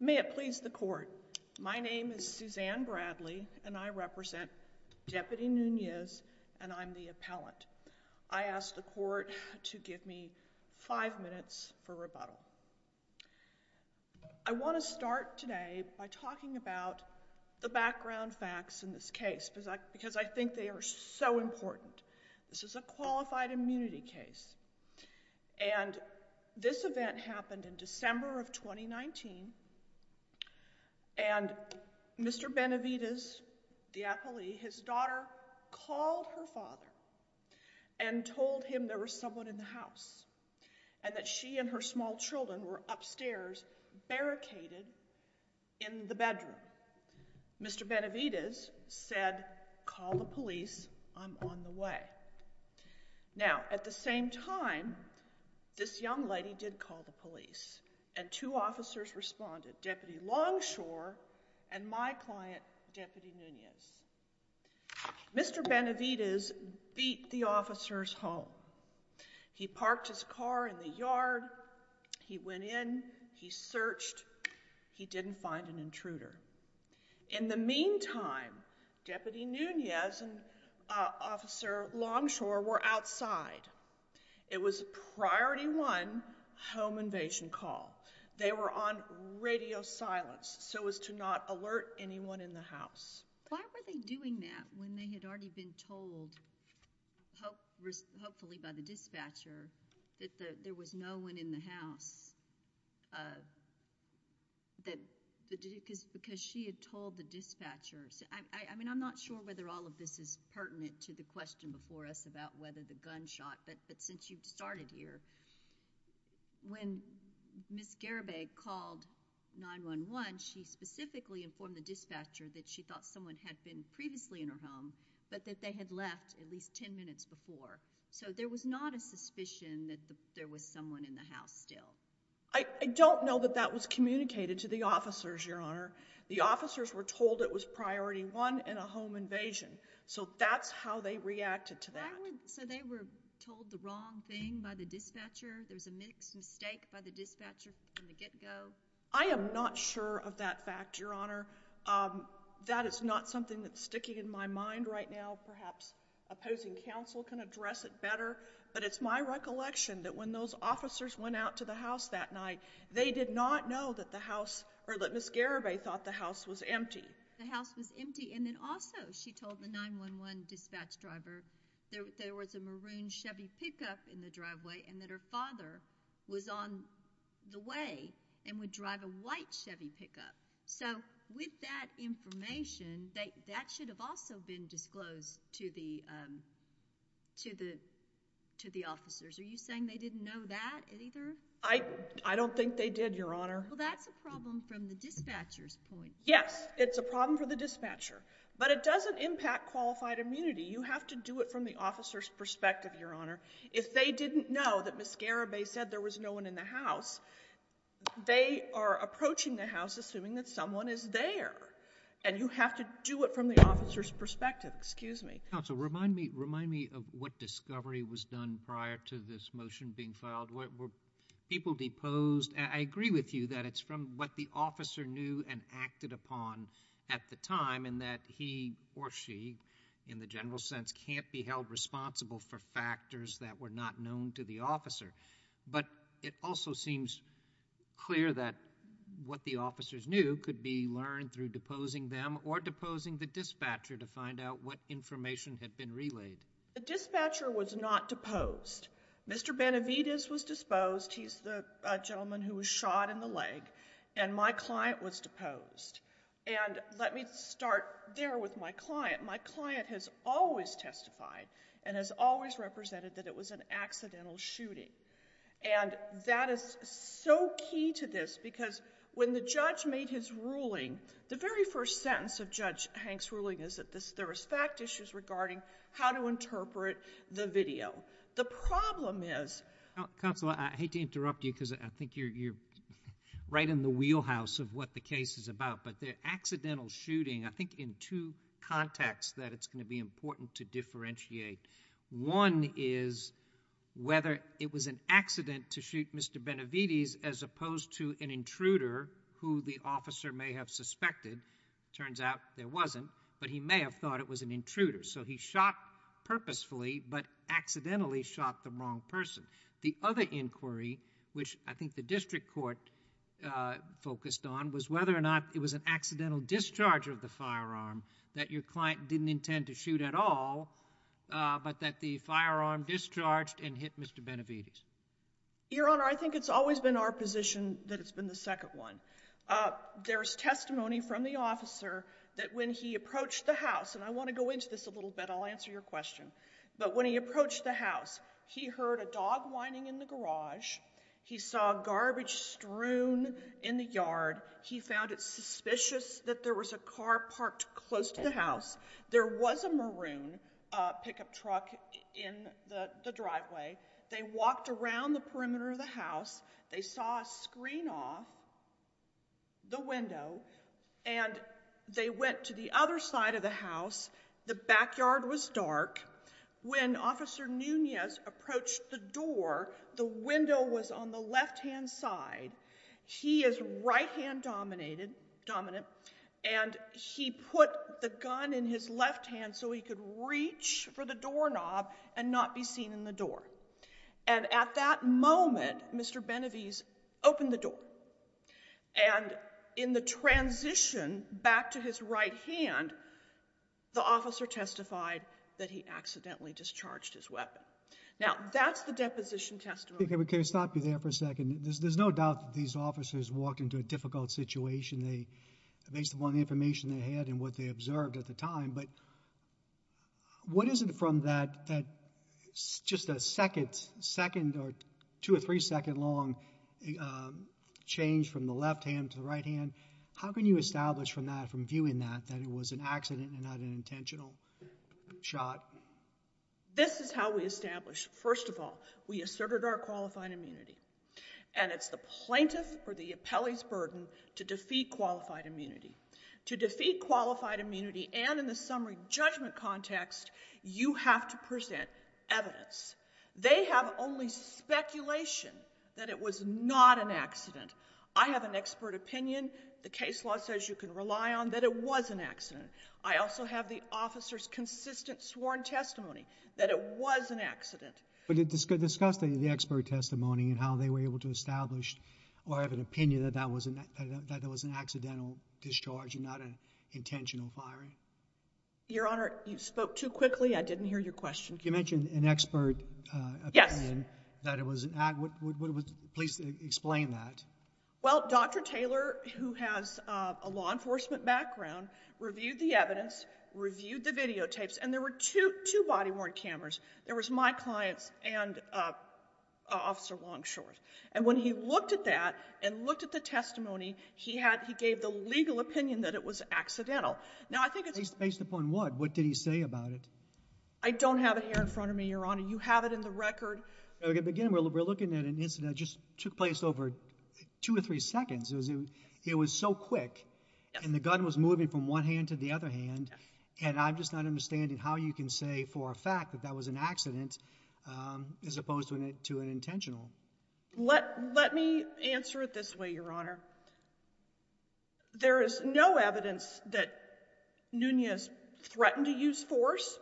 May it please the court, my name is Suzanne Bradley and I represent Deputy Nunez and I'm the appellant. I ask the court to give me five minutes for rebuttal. I want to start today by talking about the background facts in this case because I think they are so important. This is a qualified immunity case and this event happened in December of 2019 and Mr. Benavides, the appellee, his daughter called her father and told him there was someone in the house and that she and her small children were upstairs barricaded in the bedroom. Mr. Benavides said call the police, I'm on the way. Now at the same time this young lady did call the police and two officers responded, Deputy Longshore and my client Deputy Nunez. Mr. Benavides beat the officers home. He parked his car in the yard, he went in, he searched, he didn't find an intruder. In the meantime, Deputy Nunez and Officer Longshore were outside. It was priority one home invasion call. They were on radio silence so as to not alert anyone in the house. Why were they doing that when they had already been told, hopefully by the dispatcher, that there was no one in the house? Because she had told the dispatcher, I'm not sure whether all of this is pertinent to the question before us about whether the gunshot, but since you started here, when Ms. Garibay called 911, she specifically informed the dispatcher that she thought someone had been previously in her home, but that they had left at least ten minutes before. So there was not a suspicion that there was someone in the house still. I don't know that that was communicated to the officers, Your Honor. The officers were told it was priority one and a home invasion, so that's how they reacted to that. So they were told the wrong thing by the dispatcher, there was a mixed mistake by the dispatcher from the get-go. I am not sure of that fact, Your Honor. That is not something that's sticking in my mind right now, perhaps opposing counsel can address it better, but it's my recollection that when those officers went out to the house that night, they did not know that the house, or that Ms. Garibay thought the house was empty. The house was empty, and then also she told the 911 dispatch driver there was a maroon Chevy pickup in the driveway, and that her father was on the way and would drive a white Chevy pickup. So with that information, that should have also been disclosed to the officers. Are you saying they didn't know that either? I don't think they did, Your Honor. Well, that's a problem from the dispatcher's point of view. Yes, it's a problem for the dispatcher, but it doesn't impact qualified immunity. You have to do it from the officer's perspective, Your Honor. If they didn't know that Ms. Garibay said there was no one in the house, they are approaching the house assuming that someone is there, and you have to do it from the officer's Excuse me. Counsel, remind me of what discovery was done prior to this motion being filed. People deposed. I agree with you that it's from what the officer knew and acted upon at the time, and that he or she, in the general sense, can't be held responsible for factors that were not known to the officer. But it also seems clear that what the officers knew could be learned through deposing them or deposing the dispatcher to find out what information had been relayed. The dispatcher was not deposed. Mr. Benavidez was disposed. He's the gentleman who was shot in the leg, and my client was deposed. And let me start there with my client. My client has always testified and has always represented that it was an accidental shooting. And that is so key to this, because when the judge made his ruling, the very first sentence of Judge Hank's ruling is that there was fact issues regarding how to interpret the video. The problem is... Counsel, I hate to interrupt you because I think you're right in the wheelhouse of what the case is about. But the accidental shooting, I think in two contexts that it's going to be important to One is whether it was an accident to shoot Mr. Benavidez as opposed to an intruder who the officer may have suspected. Turns out there wasn't, but he may have thought it was an intruder. So he shot purposefully, but accidentally shot the wrong person. The other inquiry, which I think the district court focused on, was whether or not it was an accidental discharge of the firearm that your client didn't intend to shoot at all, but that the firearm discharged and hit Mr. Benavidez. Your Honor, I think it's always been our position that it's been the second one. There's testimony from the officer that when he approached the house, and I want to go into this a little bit. I'll answer your question. But when he approached the house, he heard a dog whining in the garage. He saw garbage strewn in the yard. He found it suspicious that there was a car parked close to the house. There was a maroon pickup truck in the driveway. They walked around the perimeter of the house. They saw a screen off the window and they went to the other side of the house. The backyard was dark. When Officer Nunez approached the door, the window was on the left-hand side. He is right-hand dominant, and he put the gun in his left hand so he could reach for the doorknob and not be seen in the door. And at that moment, Mr. Benavidez opened the door, and in the transition back to his right hand, the officer testified that he accidentally discharged his weapon. Now, that's the deposition testimony. Can we stop you there for a second? There's no doubt that these officers walked into a difficult situation based upon the information they had and what they observed at the time, but what is it from that just a second or two- or three-second-long change from the left hand to the right hand? How can you establish from that, from viewing that, that it was an accident and not an intentional shot? This is how we establish. First of all, we asserted our qualified immunity. And it's the plaintiff or the appellee's burden to defeat qualified immunity. To defeat qualified immunity, and in the summary judgment context, you have to present evidence. They have only speculation that it was not an accident. I have an expert opinion. The case law says you can rely on that it was an accident. I also have the officer's consistent sworn testimony that it was an accident. But discuss the expert testimony and how they were able to establish or have an opinion that that was an accidental discharge and not an intentional firing? Your Honor, you spoke too quickly. I didn't hear your question. You mentioned an expert opinion that it was an accident. Would you please explain that? Well, Dr. Taylor, who has a law enforcement background, reviewed the evidence, reviewed the videotapes, and there were two body-worn cameras. There was my client's and Officer Longshore's. And when he looked at that and looked at the testimony, he gave the legal opinion that it was accidental. Based upon what? What did he say about it? I don't have it here in front of me, Your Honor. You have it in the record. Again, we're looking at an incident that just took place over two or three seconds. It was so quick, and the gun was moving from one hand to the other hand, and I'm just not understanding how you can say for a fact that that was an accident as opposed to an intentional. Let me answer it this way, Your Honor. There is no evidence that Nunez threatened to use force.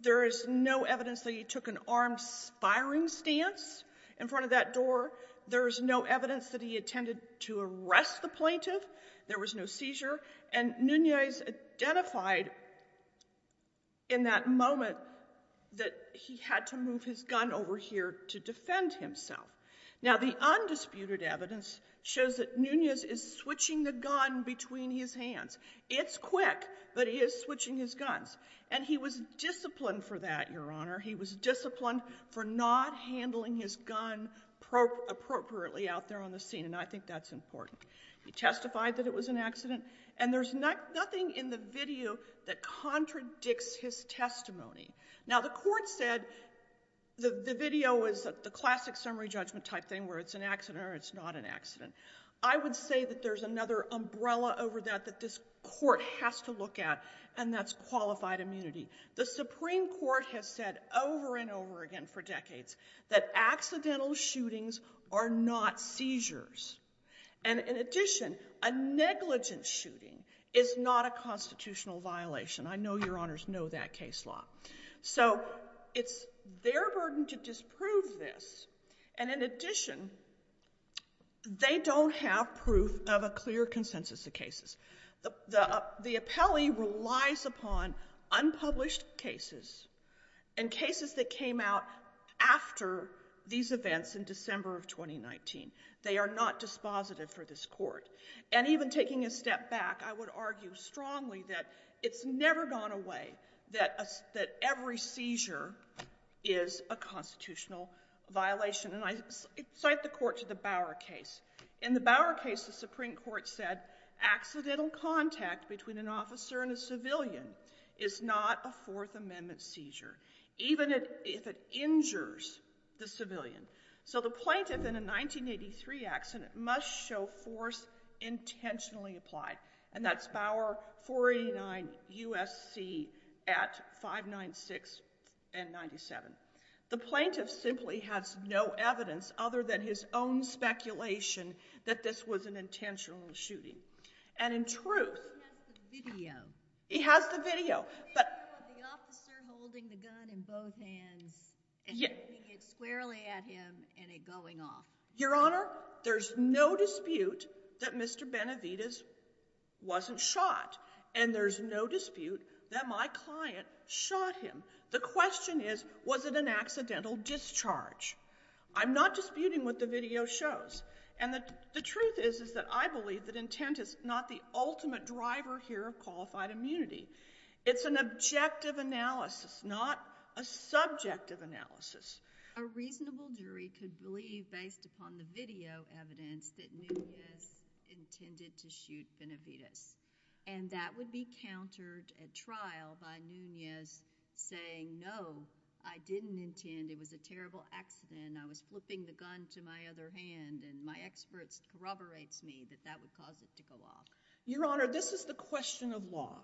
There is no evidence that he took an armed firing stance in front of that door. There is no evidence that he intended to arrest the plaintiff. There was no seizure. And Nunez identified in that moment that he had to move his gun over here to defend himself. Now the undisputed evidence shows that Nunez is switching the gun between his hands. It's quick, but he is switching his guns. And he was disciplined for that, Your Honor. He was disciplined for not handling his gun appropriately out there on the scene, and I think that's important. He testified that it was an accident. And there's nothing in the video that contradicts his testimony. Now the court said the video was the classic summary judgment type thing, where it's an accident or it's not an accident. I would say that there's another umbrella over that that this court has to look at, and that's qualified immunity. The Supreme Court has said over and over again for decades that accidental shootings are not seizures. And in addition, a negligent shooting is not a constitutional violation. I know Your Honors know that case law. So it's their burden to disprove this. And in addition, they don't have proof of a clear consensus of cases. The appellee relies upon unpublished cases and cases that came out after these events in December of 2019. They are not dispositive for this court. And even taking a step back, I would argue strongly that it's never gone away that every seizure is a constitutional violation. And I cite the court to the Bower case. In the Bower case, the Supreme Court said accidental contact between an officer and a civilian is not a Fourth Amendment seizure, even if it injures the civilian. So the plaintiff in a 1983 accident must show force intentionally applied. And that's Bower 489 USC at 596 and 97. The plaintiff simply has no evidence other than his own speculation that this was an intentional shooting. And in truth- He has the video. He has the video. But- The video of the officer holding the gun in both hands and hitting it squarely at him and it going off. Your Honor, there's no dispute that Mr. Benavidez wasn't shot. And there's no dispute that my client shot him. The question is, was it an accidental discharge? I'm not disputing what the video shows. And the truth is, is that I believe that intent is not the ultimate driver here of qualified immunity. It's an objective analysis, not a subjective analysis. A reasonable jury could believe, based upon the video evidence, that Nunez intended to shoot Benavidez. And that would be countered at trial by Nunez saying, no, I didn't intend. It was a terrible accident. I was flipping the gun to my other hand, and my expert corroborates me that that would cause it to go off. Your Honor, this is the question of law.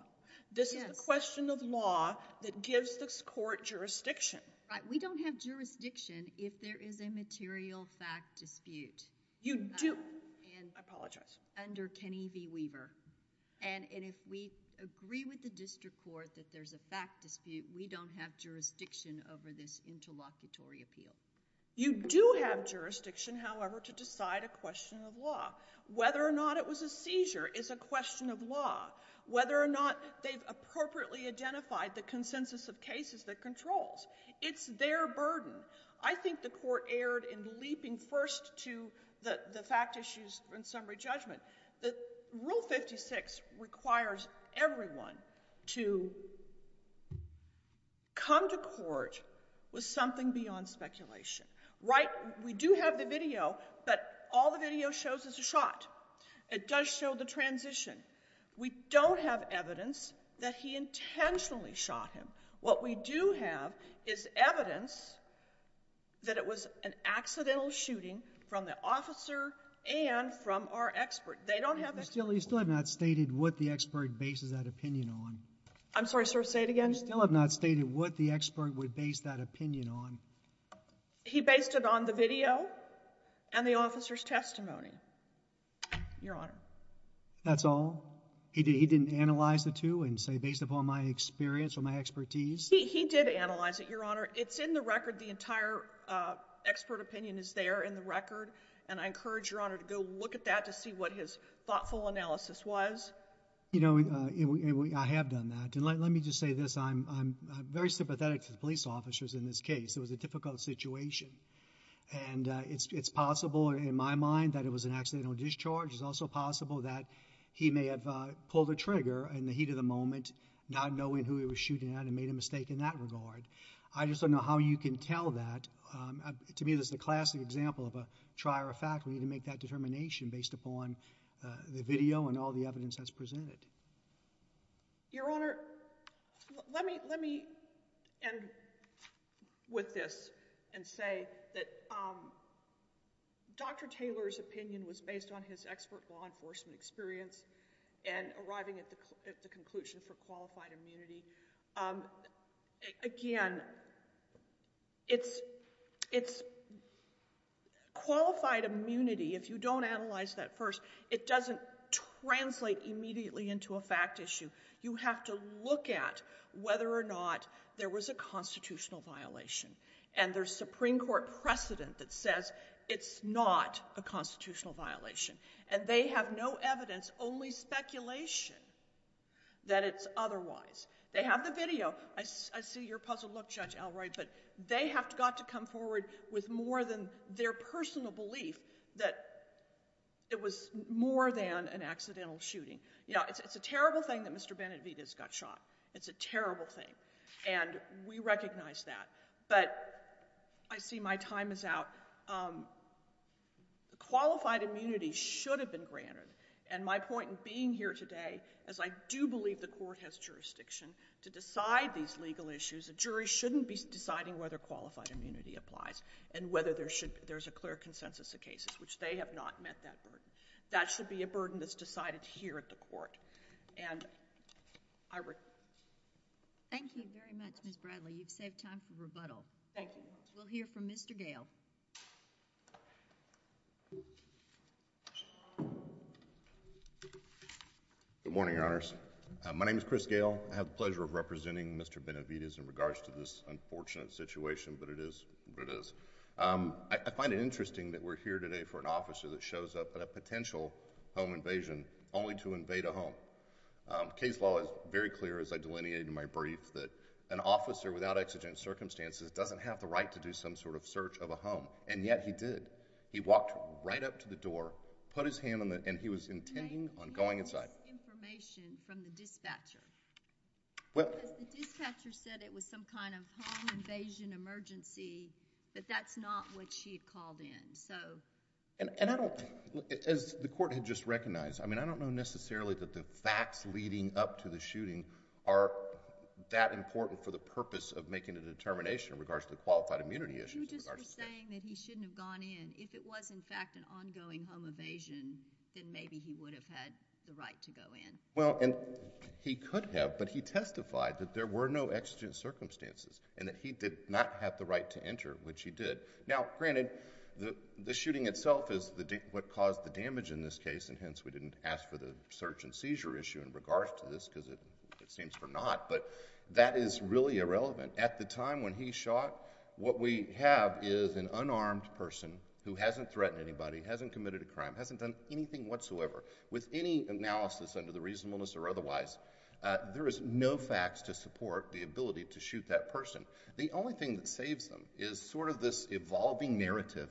This is the question of law that gives this court jurisdiction. Right, we don't have jurisdiction if there is a material fact dispute. You do, I apologize. Under Kenny V Weaver. And if we agree with the district court that there's a fact dispute, we don't have jurisdiction over this interlocutory appeal. You do have jurisdiction, however, to decide a question of law. Whether or not it was a seizure is a question of law. Whether or not they've appropriately identified the consensus of cases that controls, it's their burden. I think the court erred in leaping first to the fact issues and summary judgment that rule 56 requires everyone to come to court with something beyond speculation. Right, we do have the video, but all the video shows is a shot. It does show the transition. We don't have evidence that he intentionally shot him. What we do have is evidence that it was an accidental shooting from the officer and from our expert. They don't have that. You still have not stated what the expert bases that opinion on. I'm sorry, sir, say it again. You still have not stated what the expert would base that opinion on. He based it on the video and the officer's testimony, Your Honor. That's all? He didn't analyze the two and say based upon my experience or my expertise? He did analyze it, Your Honor. It's in the record. The entire expert opinion is there in the record, and I encourage, Your Honor, to go look at that to see what his thoughtful analysis was. You know, I have done that, and let me just say this. I'm very sympathetic to the police officers in this case. It was a difficult situation, and it's possible, in my mind, that it was an accidental discharge. It's also possible that he may have pulled a trigger in the heat of the moment, not knowing who he was shooting at and made a mistake in that regard. I just don't know how you can tell that. To me, this is a classic example of a trier of fact. We need to make that determination based upon the video and all the evidence that's presented. Your Honor, let me end with this and say that Dr. Taylor's opinion was based on his expert law enforcement experience. And arriving at the conclusion for qualified immunity. Again, it's qualified immunity, if you don't analyze that first, it doesn't translate immediately into a fact issue. You have to look at whether or not there was a constitutional violation. And there's Supreme Court precedent that says it's not a constitutional violation. And they have no evidence, only speculation, that it's otherwise. They have the video, I see your puzzled look, Judge Alroy, but they have got to come forward with more than their personal belief that it was more than an accidental shooting. Yeah, it's a terrible thing that Mr. Benavidez got shot. It's a terrible thing, and we recognize that. But I see my time is out. Qualified immunity should have been granted. And my point in being here today, as I do believe the court has jurisdiction to decide these legal issues, a jury shouldn't be deciding whether qualified immunity applies, and whether there's a clear consensus of cases, which they have not met that burden. That should be a burden that's decided here at the court. And I- Thank you very much, Ms. Bradley. You've saved time for rebuttal. Thank you. We'll hear from Mr. Gale. Good morning, Your Honors. My name is Chris Gale. I have the pleasure of representing Mr. Benavidez in regards to this unfortunate situation, but it is what it is. I find it interesting that we're here today for an officer that shows up at a potential home invasion, only to invade a home. Case law is very clear, as I delineated in my brief, that an officer without exigent circumstances doesn't have the right to do some sort of search of a home, and yet he did. He walked right up to the door, put his hand on the... and he was intending on going inside. I think he lost information from the dispatcher. Well... Because the dispatcher said it was some kind of home invasion emergency, but that's not what she had called in, so... And I don't... as the court had just recognized, I mean, I don't know necessarily that the facts leading up to the shooting are that important for the purpose of making a determination in regards to qualified immunity issues in regards to... But he just was saying that he shouldn't have gone in. If it was, in fact, an ongoing home evasion, then maybe he would have had the right to go in. Well, and he could have, but he testified that there were no exigent circumstances, and that he did not have the right to enter, which he did. Now, granted, the shooting itself is what caused the damage in this case, and hence we didn't ask for the search and seizure issue in regards to this, because it seems for naught, but that is really irrelevant. At the time when he shot, what we have is an unarmed person who hasn't threatened anybody, hasn't committed a crime, hasn't done anything whatsoever. With any analysis under the reasonableness or otherwise, there is no facts to support the ability to shoot that person. The only thing that saves them is sort of this evolving narrative,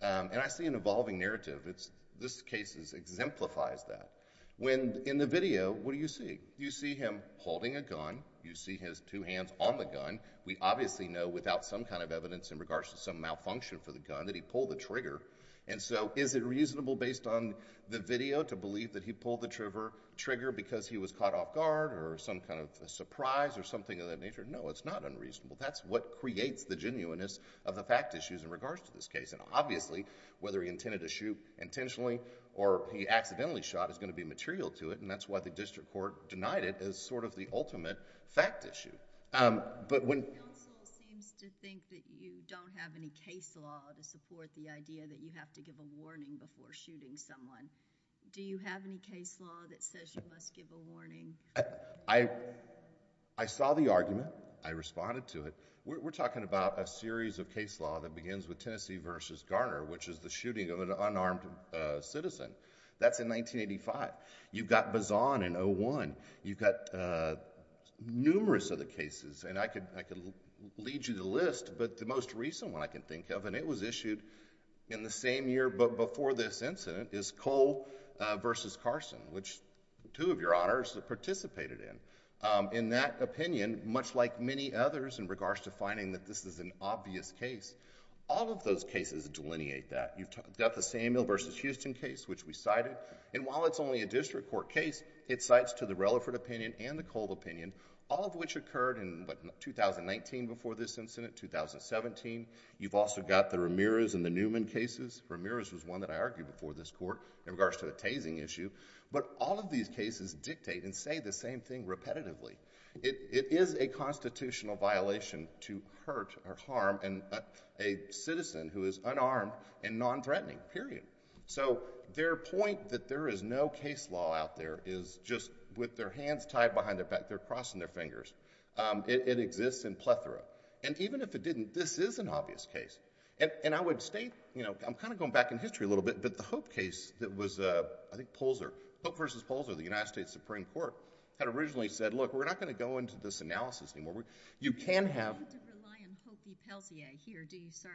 and I see an evolving narrative. This case exemplifies that. When in the video, what do you see? You see him holding a gun. You see his two hands on the gun. We obviously know without some kind of evidence in regards to some malfunction for the gun that he pulled the trigger, and so is it reasonable based on the video to believe that he pulled the trigger because he was caught off guard or some kind of surprise or something of that nature? No, it's not unreasonable. That's what creates the genuineness of the fact issues in regards to this case, and obviously, whether he intended to shoot intentionally or he accidentally shot is going to be material to it, and that's why the district court denied it as sort of the ultimate fact issue. When... The counsel seems to think that you don't have any case law to support the idea that you have to give a warning before shooting someone. Do you have any case law that says you must give a warning? I saw the argument. I responded to it. We're talking about a series of case law that begins with Tennessee versus Garner, which is the shooting of an unarmed citizen. That's in 1985. You've got Bazan in 1901. You've got numerous other cases, and I could lead you the list, but the most recent one I can think of, and it was issued in the same year before this incident, is Cole versus Carson, which two of your Honors participated in. In that opinion, much like many others in regards to finding that this is an obvious case, all of those cases delineate that. You've got the Samuel versus Houston case, which we cited, and while it's only a district court case, it cites to the Relaford opinion and the Cole opinion, all of which occurred in 2019 before this incident, 2017. You've also got the Ramirez and the Newman cases. Ramirez was one that I argued before this court in regards to the tasing issue, but all of these cases dictate and say the same thing repetitively. It is a constitutional violation to hurt or harm a citizen who is unarmed and non-threatening, period. Their point that there is no case law out there is just with their hands tied behind their back, they're crossing their fingers. It exists in plethora. Even if it didn't, this is an obvious case. I would state, I'm kind of going back in history a little bit, but the Hope case that was, I think Polzer, Hope versus Polzer, the United States Supreme Court had originally said, look, we're not going to go into this analysis anymore. You can have... You don't have to rely on Hope v. Pelsier here, do you, sir?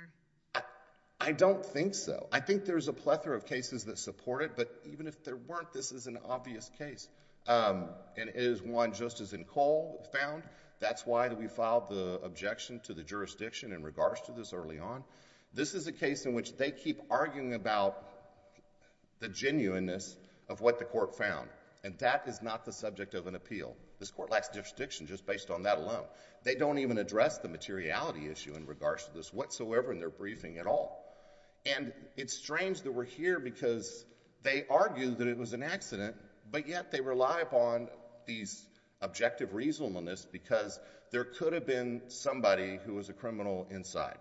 I don't think so. I think there's a plethora of cases that support it, but even if there weren't, this is an obvious case, and it is one just as in Cole found, that's why we filed the objection to the jurisdiction in regards to this early on. This is a case in which they keep arguing about the genuineness of what the court found, and that is not the subject of an appeal. This court lacks jurisdiction just based on that alone. They don't even address the materiality issue in regards to this whatsoever in their briefing at all. And it's strange that we're here because they argue that it was an accident, but yet they rely upon these objective reasonableness because there could have been somebody who was a criminal inside.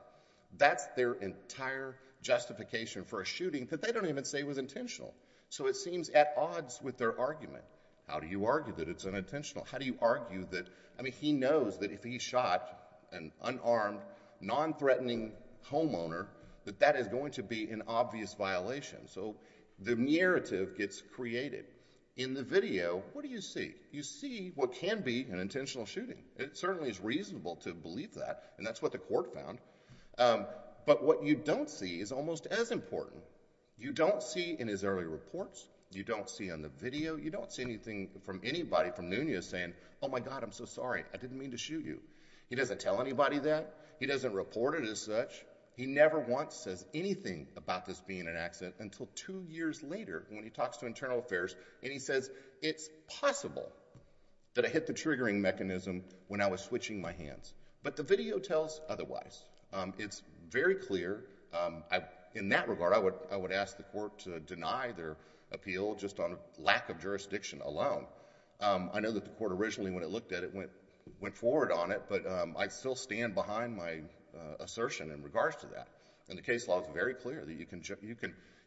That's their entire justification for a shooting that they don't even say was intentional, so it seems at odds with their argument. How do you argue that it's unintentional? How do you argue that, I mean, he knows that if he shot an unarmed, non-threatening homeowner, that that is going to be an obvious violation? So the narrative gets created. In the video, what do you see? You see what can be an intentional shooting. It certainly is reasonable to believe that, and that's what the court found. But what you don't see is almost as important. You don't see in his early reports. You don't see on the video. You don't see anything from anybody from Nunez saying, my God, I'm so sorry. I didn't mean to shoot you. He doesn't tell anybody that. He doesn't report it as such. He never once says anything about this being an accident until two years later when he talks to Internal Affairs, and he says, it's possible that I hit the triggering mechanism when I was switching my hands. But the video tells otherwise. It's very clear, in that regard, I would ask the court to deny their appeal just on lack of jurisdiction alone. I know that the court originally, when it looked at it, went forward on it. But I still stand behind my assertion in regards to that. And the case law is very clear that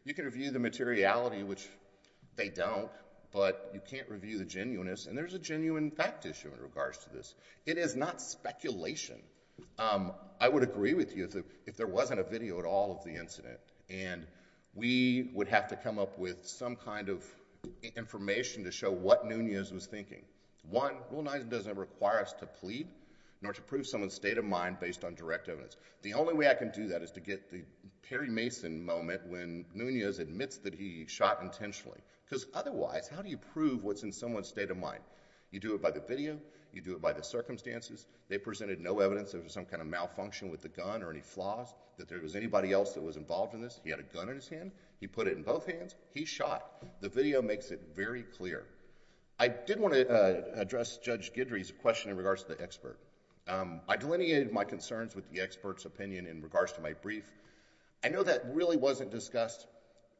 you can review the materiality, which they don't, but you can't review the genuineness. And there's a genuine fact issue in regards to this. It is not speculation. I would agree with you if there wasn't a video at all of the incident. And we would have to come up with some kind of information to show what Nunez was thinking. One, Rule 9 doesn't require us to plead, nor to prove someone's state of mind based on direct evidence. The only way I can do that is to get the Perry Mason moment when Nunez admits that he shot intentionally. Because otherwise, how do you prove what's in someone's state of mind? You do it by the video. You do it by the circumstances. They presented no evidence of some kind of malfunction with the gun or any flaws, that there was anybody else that was involved in this. He had a gun in his hand. He put it in both hands. He shot. The video makes it very clear. I did want to address Judge Guidry's question in regards to the expert. I delineated my concerns with the expert's opinion in regards to my brief. I know that really wasn't discussed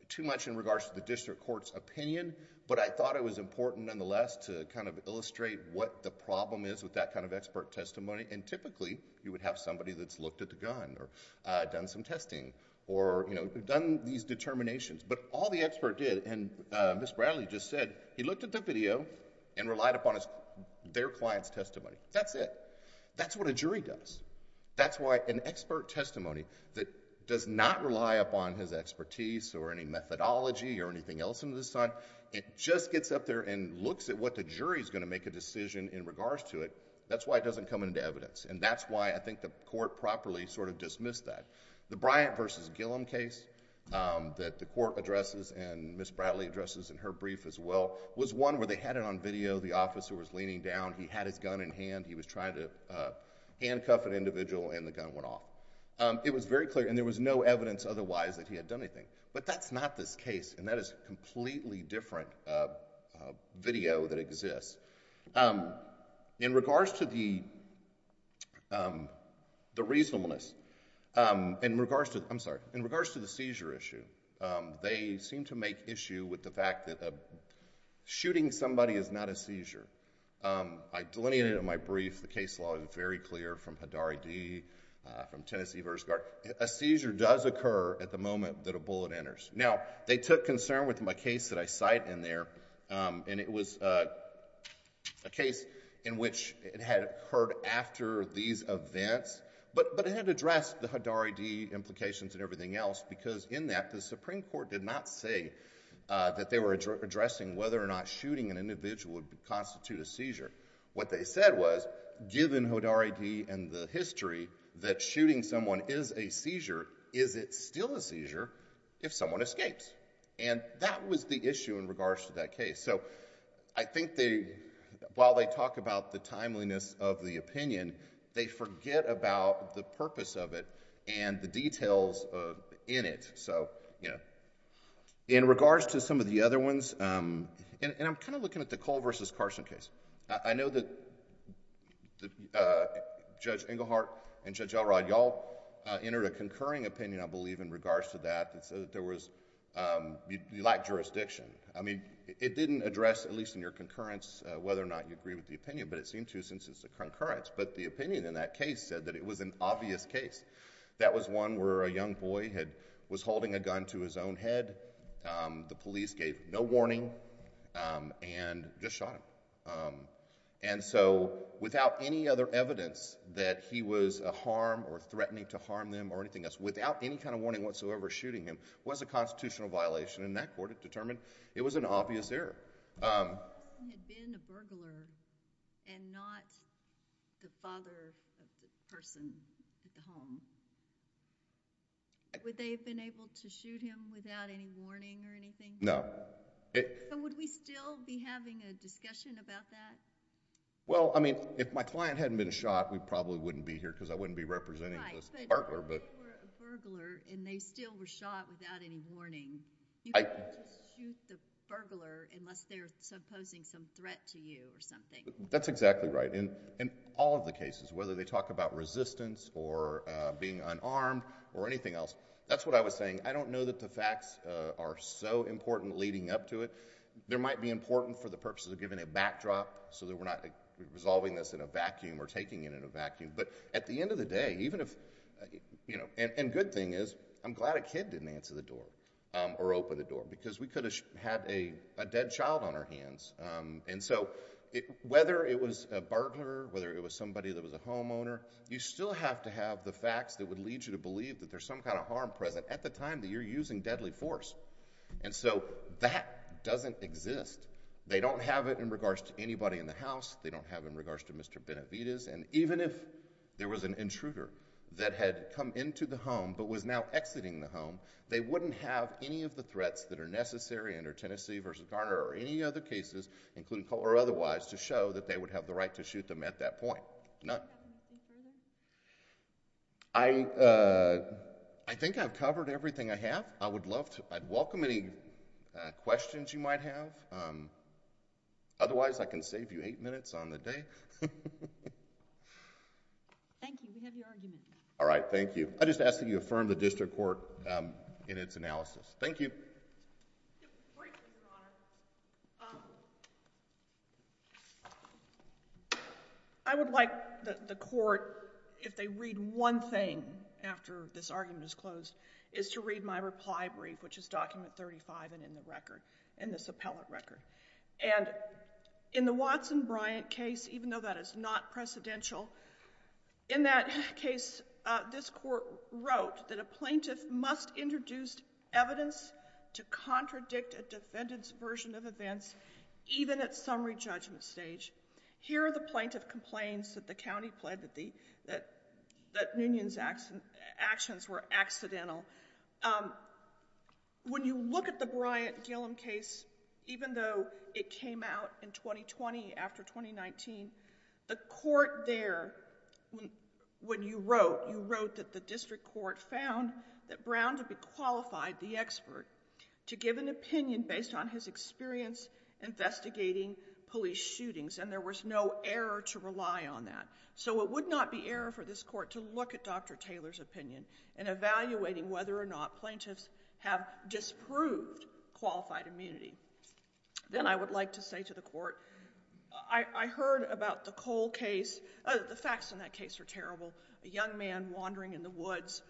too much in regards to the district court's opinion, but I thought it was important nonetheless to kind of illustrate what the problem is with that kind of expert testimony. And typically, you would have somebody that's looked at the gun or done some testing or, you know, done these determinations. But all the expert did, and Ms. Bradley just said, he looked at the video and relied upon their client's testimony. That's it. That's what a jury does. That's why an expert testimony that does not rely upon his expertise or any methodology or anything else in this time, it just gets up there and looks at what the jury is going to make a decision in regards to it. That's why it doesn't come into evidence. And that's why I think the court properly sort of dismissed that. The Bryant v. Gilliam case that the court addresses and Ms. Bradley addresses in her brief as well, was one where they had it on video. The officer was leaning down. He had his gun in hand. He was trying to handcuff an individual and the gun went off. It was very clear, and there was no evidence otherwise that he had done anything. But that's not this case, and that is a completely different video that exists. In regards to the reasonableness, in regards to... I'm sorry, in regards to the seizure issue, they seem to make issue with the fact that shooting somebody is not a seizure. I delineated it in my brief. The case law is very clear from Hadari D., from Tennessee First Guard. A seizure does occur at the moment that a bullet enters. Now, they took concern with my case that I cite in there, and it was a case in which it had occurred after these events, but it had addressed the Hadari D. implications and everything else because in that, the Supreme Court did not say that they were addressing whether or not shooting an individual would constitute a seizure. What they said was, given Hadari D. and the history that shooting someone is a seizure, is it still a seizure if someone escapes? That was the issue in regards to that case. I think while they talk about the timeliness of the opinion, they forget about the purpose of it and the details in it. In regards to some of the other ones, and I'm kind of looking at the Cole v. Carson case. I know that Judge Englehart and Judge Elrod, you all entered a concurring opinion, I believe, in regards to that. You lacked jurisdiction. It didn't address, at least in your concurrence, whether or not you agree with the opinion, but it seemed to since it's a concurrence, but the opinion in that case said that it was an obvious case. That was one where a young boy was holding a gun to his own head. The police gave no warning and just shot him. Without any other evidence that he was a harm or threatening to harm them or anything else, without any kind of warning whatsoever, shooting him was a constitutional violation. In that court, it determined it was an obvious error. If Carson had been a burglar and not the father of the person at the home, would they have been able to shoot him without any warning or anything? No. Would we still be having a discussion about that? Well, I mean, if my client hadn't been shot, we probably wouldn't be here because I wouldn't be representing this partner. Right, but if they were a burglar and they still were shot without any warning, you can't just shoot the burglar unless they're supposing some threat to you or something. That's exactly right. In all of the cases, whether they talk about resistance or being unarmed or anything else, that's what I was saying. I don't know that the facts are so important leading up to it. There might be important for the purposes of giving a backdrop so that we're not resolving this in a vacuum or taking it in a vacuum, but at the end of the day, even if... and good thing is, I'm glad a kid didn't answer the door or open the door because we could have had a dead child on our hands. Whether it was a burglar, whether it was somebody that was a homeowner, you still have to have the facts that would lead you to believe that there's some kind of harm present at the time that you're using deadly force. That doesn't exist. They don't have it in regards to anybody in the house. They don't have it in regards to Mr. Benavidez. Even if there was an intruder that had come into the home but was now exiting the home, they wouldn't have any of the threats that are necessary under Tennessee v. Garner or any other cases, including... or otherwise, to show that they would have the right to shoot them at that point. I think I've covered everything I have. I would love to... I'd welcome any questions you might have. Otherwise, I can save you eight minutes on the day. Thank you. We have your argument. All right. Thank you. I just ask that you affirm the district court in its analysis. Thank you. Great, Your Honor. I would like the court, if they read one thing after this argument is closed, is to read my reply brief, which is document 35 and in the record, in this appellate record. In the Watson Bryant case, even though that is not precedential, in that case, this court wrote that a plaintiff must introduce evidence to contradict a defendant's version of events, even at summary judgment stage. Here are the plaintiff complaints that the county pled that Noonan's actions were accidental. When you look at the Bryant-Gillum case, even though it came out in 2020 after 2019, the court there, when you wrote, you wrote that the district court found that Brown to be qualified, the expert, to give an opinion based on his experience investigating police shootings, and there was no error to rely on that. So it would not be error for this court to look at Dr. Taylor's opinion in evaluating whether or not plaintiffs have disproved qualified immunity. Then I would like to say to the court, I heard about the Cole case, the facts in that case are terrible. A young man wandering in the woods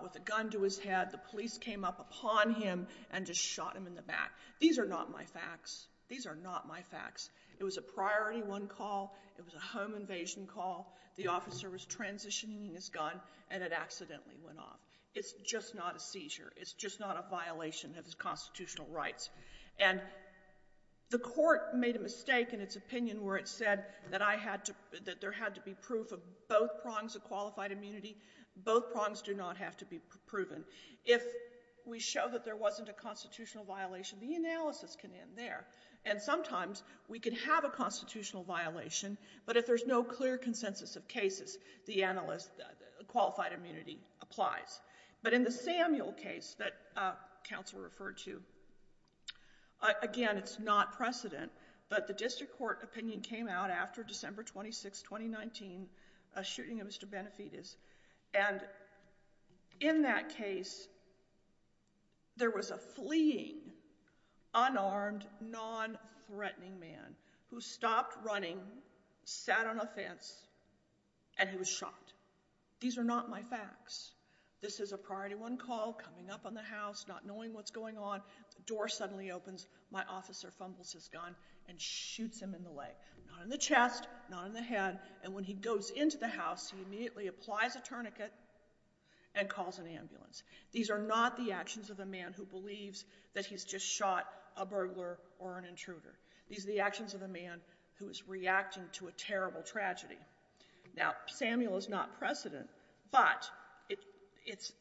with a gun to his head, the police came up upon him and just shot him in the back. These are not my facts. These are not my facts. It was a priority one call, it was a home invasion call, the officer was transitioning his gun, and it accidentally went off. It's just not a seizure. It's just not a violation of his constitutional rights. And the court made a mistake in its opinion where it said that I had to, that there had to be proof of both prongs of qualified immunity. Both prongs do not have to be proven. If we show that there wasn't a constitutional violation, the analysis can end there. And sometimes we can have a constitutional violation, but if there's no clear consensus of cases, the analyst, qualified immunity applies. But in the Samuel case that counsel referred to, again, it's not precedent, but the district court opinion came out after December 26, 2019, a shooting of Mr. Benefitis. And in that case, there was a fleeing, unarmed, non-threatening man who stopped running, sat on a fence, and he was shot. These are not my facts. This is a priority one call, coming up on the house, not knowing what's going on, door suddenly opens, my officer fumbles his gun, and shoots him in the leg. Not in the chest, not in the head. And when he goes into the house, he immediately applies a tourniquet and calls an ambulance. These are not the actions of a man who believes that he's just shot a burglar or an intruder. These are the actions of a man who is reacting to a terrible tragedy. Now Samuel is not precedent, but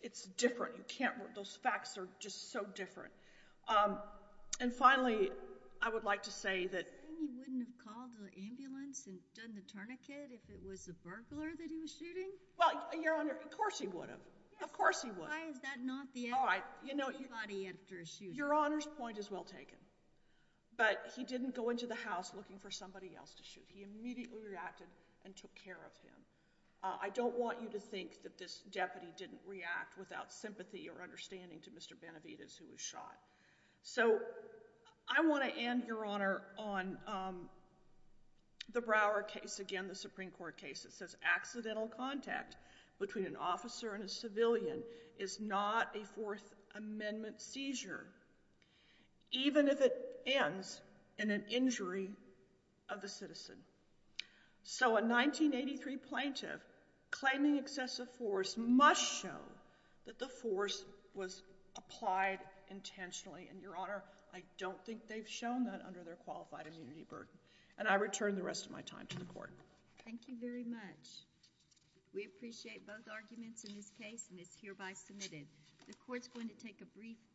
it's different. Those facts are just so different. And finally, I would like to say that... You wouldn't have called the ambulance and done the tourniquet if it was a burglar that he was shooting? Well, Your Honor, of course he would have. Of course he would. Why is that not the act of anybody after a shooting? Your Honor's point is well taken, but he didn't go into the house looking for somebody else to shoot. He immediately reacted and took care of him. I don't want you to think that this deputy didn't react without sympathy or understanding to Mr. Benavides who was shot. So I want to end, Your Honor, on the Brower case, again the Supreme Court case that says accidental contact between an officer and a civilian is not a Fourth Amendment seizure, even if it ends in an injury of the citizen. So a 1983 plaintiff claiming excessive force must show that the force was applied intentionally. And Your Honor, I don't think they've shown that under their qualified immunity burden. And I return the rest of my time to the Court. Thank you very much. We appreciate both arguments in this case and it's hereby submitted. The Court's going to take a brief...